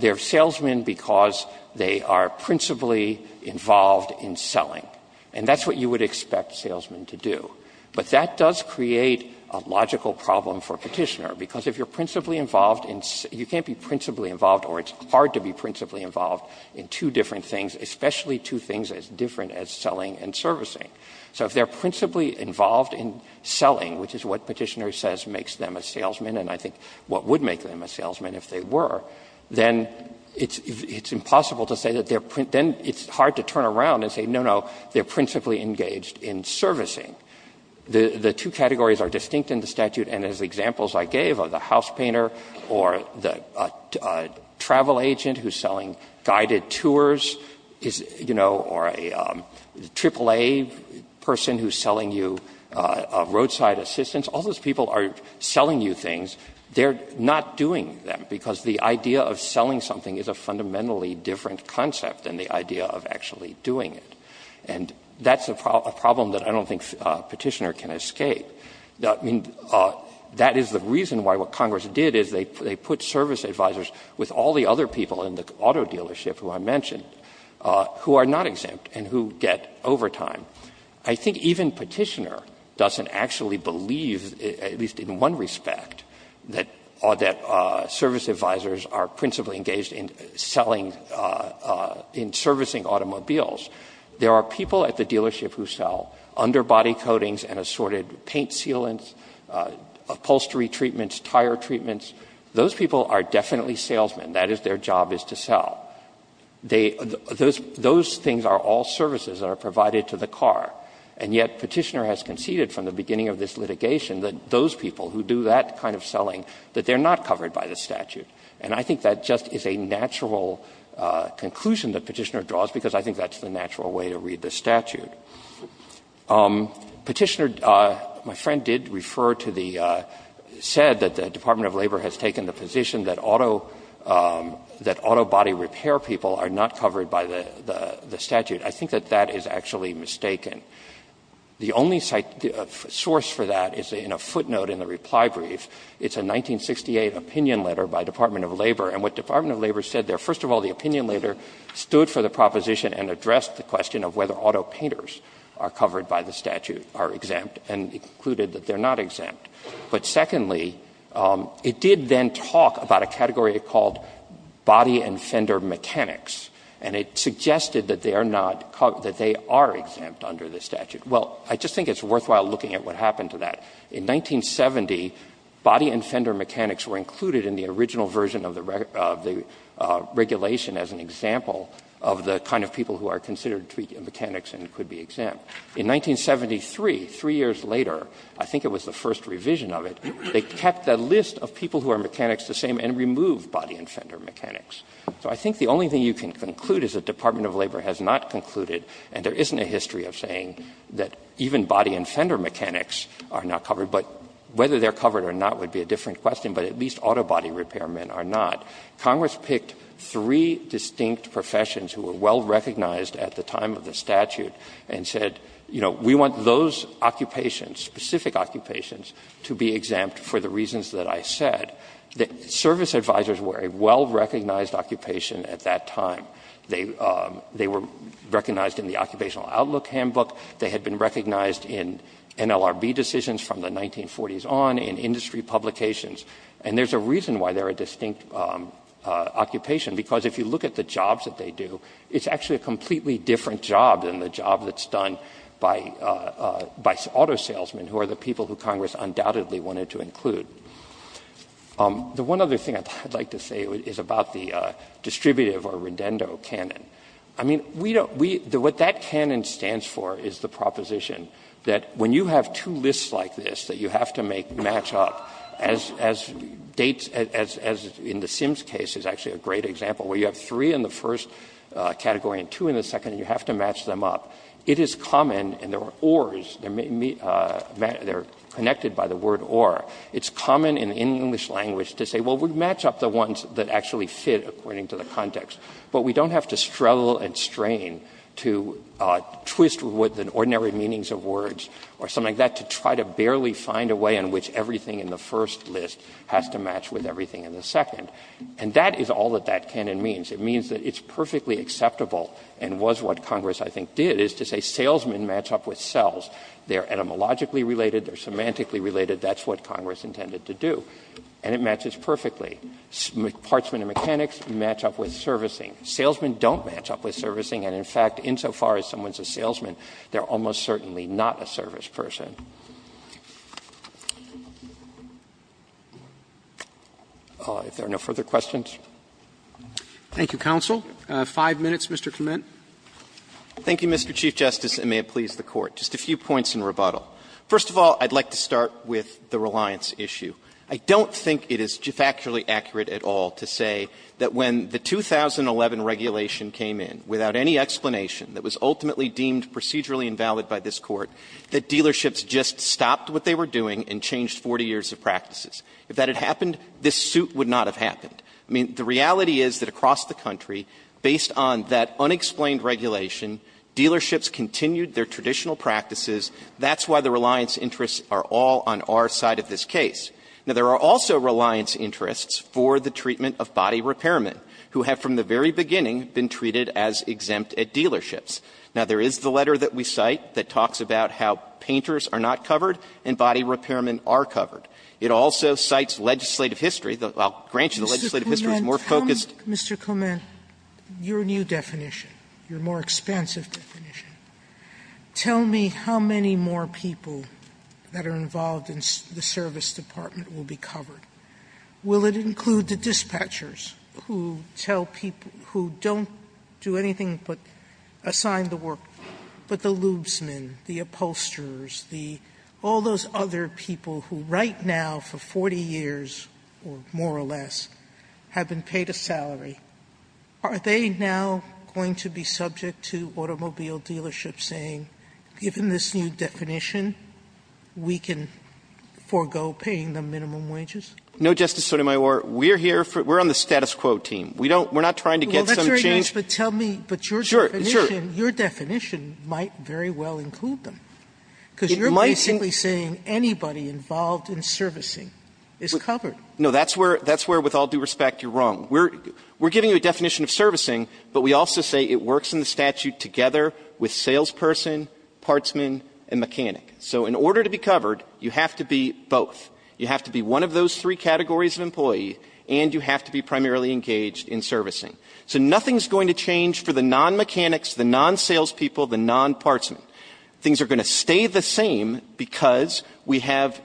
they're salesmen because they are principally involved in selling, and that's what you would expect salesmen to do. But that does create a logical problem for Petitioner, because if you're principally involved in — you can't be principally involved, or it's hard to be principally involved in two different things, especially two things as different as selling and servicing. So if they're principally involved in selling, which is what Petitioner says makes them a salesman, and I think what would make them a salesman if they were, then it's impossible to say that they're — then it's hard to turn around and say, no, no, they're principally engaged in servicing. The two categories are distinct in the statute, and as examples I gave of the house painter or the travel agent who's selling guided tours, you know, or a AAA person who's selling you roadside assistance, all those people are selling you things. They're not doing them, because the idea of selling something is a fundamentally different concept than the idea of actually doing it. And that's a problem that I don't think Petitioner can escape. I mean, that is the reason why what Congress did is they put service advisors with all the other people in the auto dealership who I mentioned who are not exempt and who get overtime. I think even Petitioner doesn't actually believe, at least in one respect, that service advisors are principally engaged in selling — in servicing automobiles. There are people at the dealership who sell underbody coatings and assorted paint sealants, upholstery treatments, tire treatments. Those people are definitely salesmen. That is, their job is to sell. Those things are all services that are provided to the car, and yet Petitioner has conceded from the beginning of this litigation that those people who do that kind of selling, that they're not covered by the statute. And I think that just is a natural conclusion that Petitioner draws, because I think that's the natural way to read the statute. Petitioner, my friend did refer to the — said that the Department of Labor has taken the position that auto — that autobody repair people are not covered by the statute. I think that that is actually mistaken. The only source for that is in a footnote in the reply brief. It's a 1968 opinion letter by the Department of Labor. And what the Department of Labor said there, first of all, the opinion letter stood for the proposition and addressed the question of whether auto painters are covered by the statute, are exempt, and included that they're not exempt. But secondly, it did then talk about a category called body and fender mechanics, and it suggested that they are not — that they are exempt under the statute. Well, I just think it's worthwhile looking at what happened to that. In 1970, body and fender mechanics were included in the original version of the regulation as an example of the kind of people who are considered to be mechanics and could be exempt. In 1973, three years later, I think it was the first revision of it, they kept the list of people who are mechanics the same and removed body and fender mechanics. So I think the only thing you can conclude is the Department of Labor has not concluded, and there isn't a history of saying that even body and fender mechanics are not covered. But whether they're covered or not would be a different question, but at least auto body repairmen are not. Congress picked three distinct professions who were well-recognized at the time of the statute and said, you know, we want those occupations, specific occupations, to be exempt for the reasons that I said. The service advisors were a well-recognized occupation at that time. They were recognized in the Occupational Outlook Handbook. They had been recognized in NLRB decisions from the 1940s on, in industry publications. And there's a reason why they're a distinct occupation, because if you look at the jobs that they do, it's actually a completely different job than the job that's done by auto salesmen, who are the people who Congress undoubtedly wanted to include. The one other thing I'd like to say is about the distributive or redendo canon. I mean, we don't we the what that canon stands for is the proposition that when you have two lists like this that you have to make match up as as dates as as in the Sims case is actually a great example, where you have three in the first category and two in the second, and you have to match them up. It is common, and there are ORs, they're connected by the word OR. It's common in English language to say, well, we'd match up the ones that actually fit according to the context, but we don't have to struggle and strain to twist with the ordinary meanings of words or something like that to try to barely find a way in which everything in the first list has to match with everything in the second. And that is all that that canon means. It means that it's perfectly acceptable and was what Congress, I think, did, is to say salesmen match up with sales. They're etymologically related. They're semantically related. That's what Congress intended to do, and it matches perfectly. Parchment and mechanics match up with servicing. Salesmen don't match up with servicing, and in fact, insofar as someone's a salesman, they're almost certainly not a service person. If there are no further questions. Roberts. Thank you, counsel. Five minutes, Mr. Clement. Clement. Thank you, Mr. Chief Justice, and may it please the Court. Just a few points in rebuttal. First of all, I'd like to start with the reliance issue. I don't think it is factually accurate at all to say that when the 2011 regulation came in, without any explanation, that was ultimately deemed procedurally invalid by this Court, that dealerships just stopped what they were doing and changed 40 years of practices. If that had happened, this suit would not have happened. I mean, the reality is that across the country, based on that unexplained regulation, dealerships continued their traditional practices. That's why the reliance interests are all on our side of this case. Now, there are also reliance interests for the treatment of body repairmen, who have from the very beginning been treated as exempt at dealerships. Now, there is the letter that we cite that talks about how painters are not covered and body repairmen are covered. It also cites legislative history. I'll grant you the legislative history is more focused. Mr. Clement, your new definition, your more expansive definition, tell me how much many more people that are involved in the service department will be covered? Will it include the dispatchers who tell people, who don't do anything but assign the work, but the lubesmen, the upholsterers, all those other people who right now for 40 years, or more or less, have been paid a salary, are they now going to be Is that your new definition, we can forego paying them minimum wages? Clement, No, Justice Sotomayor. We're here for the status quo team. We don't, we're not trying to get some change. Sotomayor, Well, that's very nice, but tell me, but your definition, your definition might very well include them. Clement, It might. Sotomayor, Because you're basically saying anybody involved in servicing is covered. Clement, No, that's where, that's where, with all due respect, you're wrong. We're giving you a definition of servicing, but we also say it works in the statute together with salesperson, partsman, and mechanic. So in order to be covered, you have to be both. You have to be one of those three categories of employee, and you have to be primarily engaged in servicing. So nothing's going to change for the non-mechanics, the non-salespeople, the non-partsman. Things are going to stay the same because we have,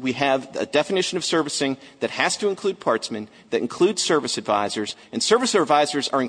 we have a definition of servicing that has to include partsmen, that includes service advisors, and service advisors are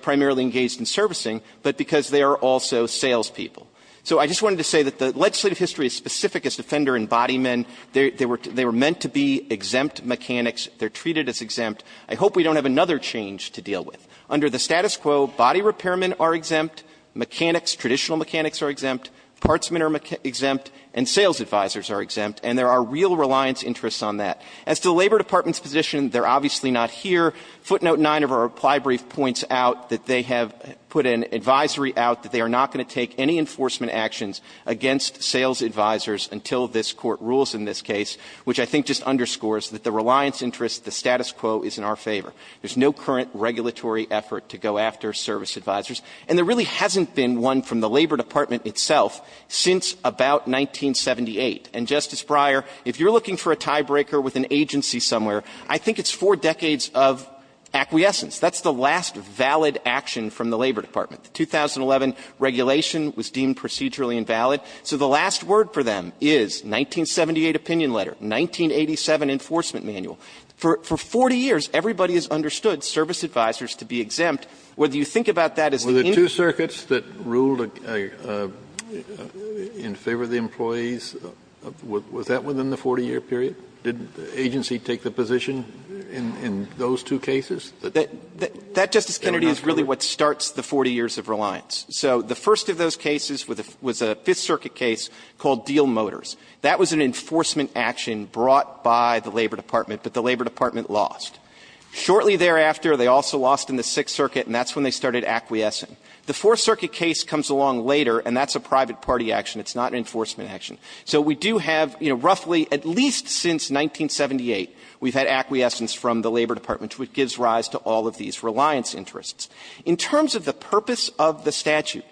primarily engaged in servicing, but because they are also salespeople. So I just wanted to say that the legislative history is specific as Defender and Bodymen. They were meant to be exempt mechanics. They're treated as exempt. I hope we don't have another change to deal with. Under the status quo, body repairmen are exempt, mechanics, traditional mechanics are exempt, partsmen are exempt, and sales advisors are exempt, and there are real reliance interests on that. As to the Labor Department's position, they're obviously not here. Footnote 9 of our reply brief points out that they have put an advisory out that they are not going to take any enforcement actions against sales advisors until this Court rules in this case, which I think just underscores that the reliance interest, the status quo is in our favor. There's no current regulatory effort to go after service advisors. And there really hasn't been one from the Labor Department itself since about 1978. And, Justice Breyer, if you're looking for a tiebreaker with an agency somewhere, I think it's four decades of acquiescence. That's the last valid action from the Labor Department. The 2011 regulation was deemed procedurally invalid. So the last word for them is 1978 opinion letter, 1987 enforcement manual. For 40 years, everybody has understood service advisors to be exempt. Whether you think about that as an indictment. Kennedy, were there two circuits that ruled in favor of the employees? Was that within the 40-year period? Did the agency take the position in those two cases? That Justice Kennedy is really what starts the 40 years of reliance. So the first of those cases was a Fifth Circuit case called Deal Motors. That was an enforcement action brought by the Labor Department, but the Labor Department lost. Shortly thereafter, they also lost in the Sixth Circuit, and that's when they started acquiescing. The Fourth Circuit case comes along later, and that's a private party action. It's not an enforcement action. So we do have, you know, roughly at least since 1978, we've had acquiescence from the Labor Department, which gives rise to all of these reliance interests. In terms of the purpose of the statute,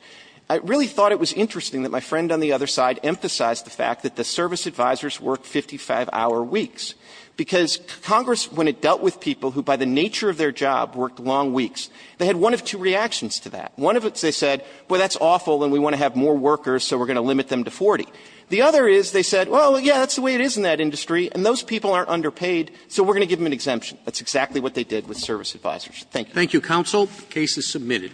I really thought it was interesting that my friend on the other side emphasized the fact that the service advisors worked 55-hour weeks, because Congress, when it dealt with people who, by the nature of their job, worked long weeks, they had one of two reactions to that. One of them, they said, well, that's awful and we want to have more workers, so we're going to limit them to 40. The other is, they said, well, yeah, that's the way it is in that industry, and those people aren't underpaid, so we're going to give them an exemption. That's exactly what they did with service advisors. Thank you. Roberts. Thank you, counsel. The case is submitted.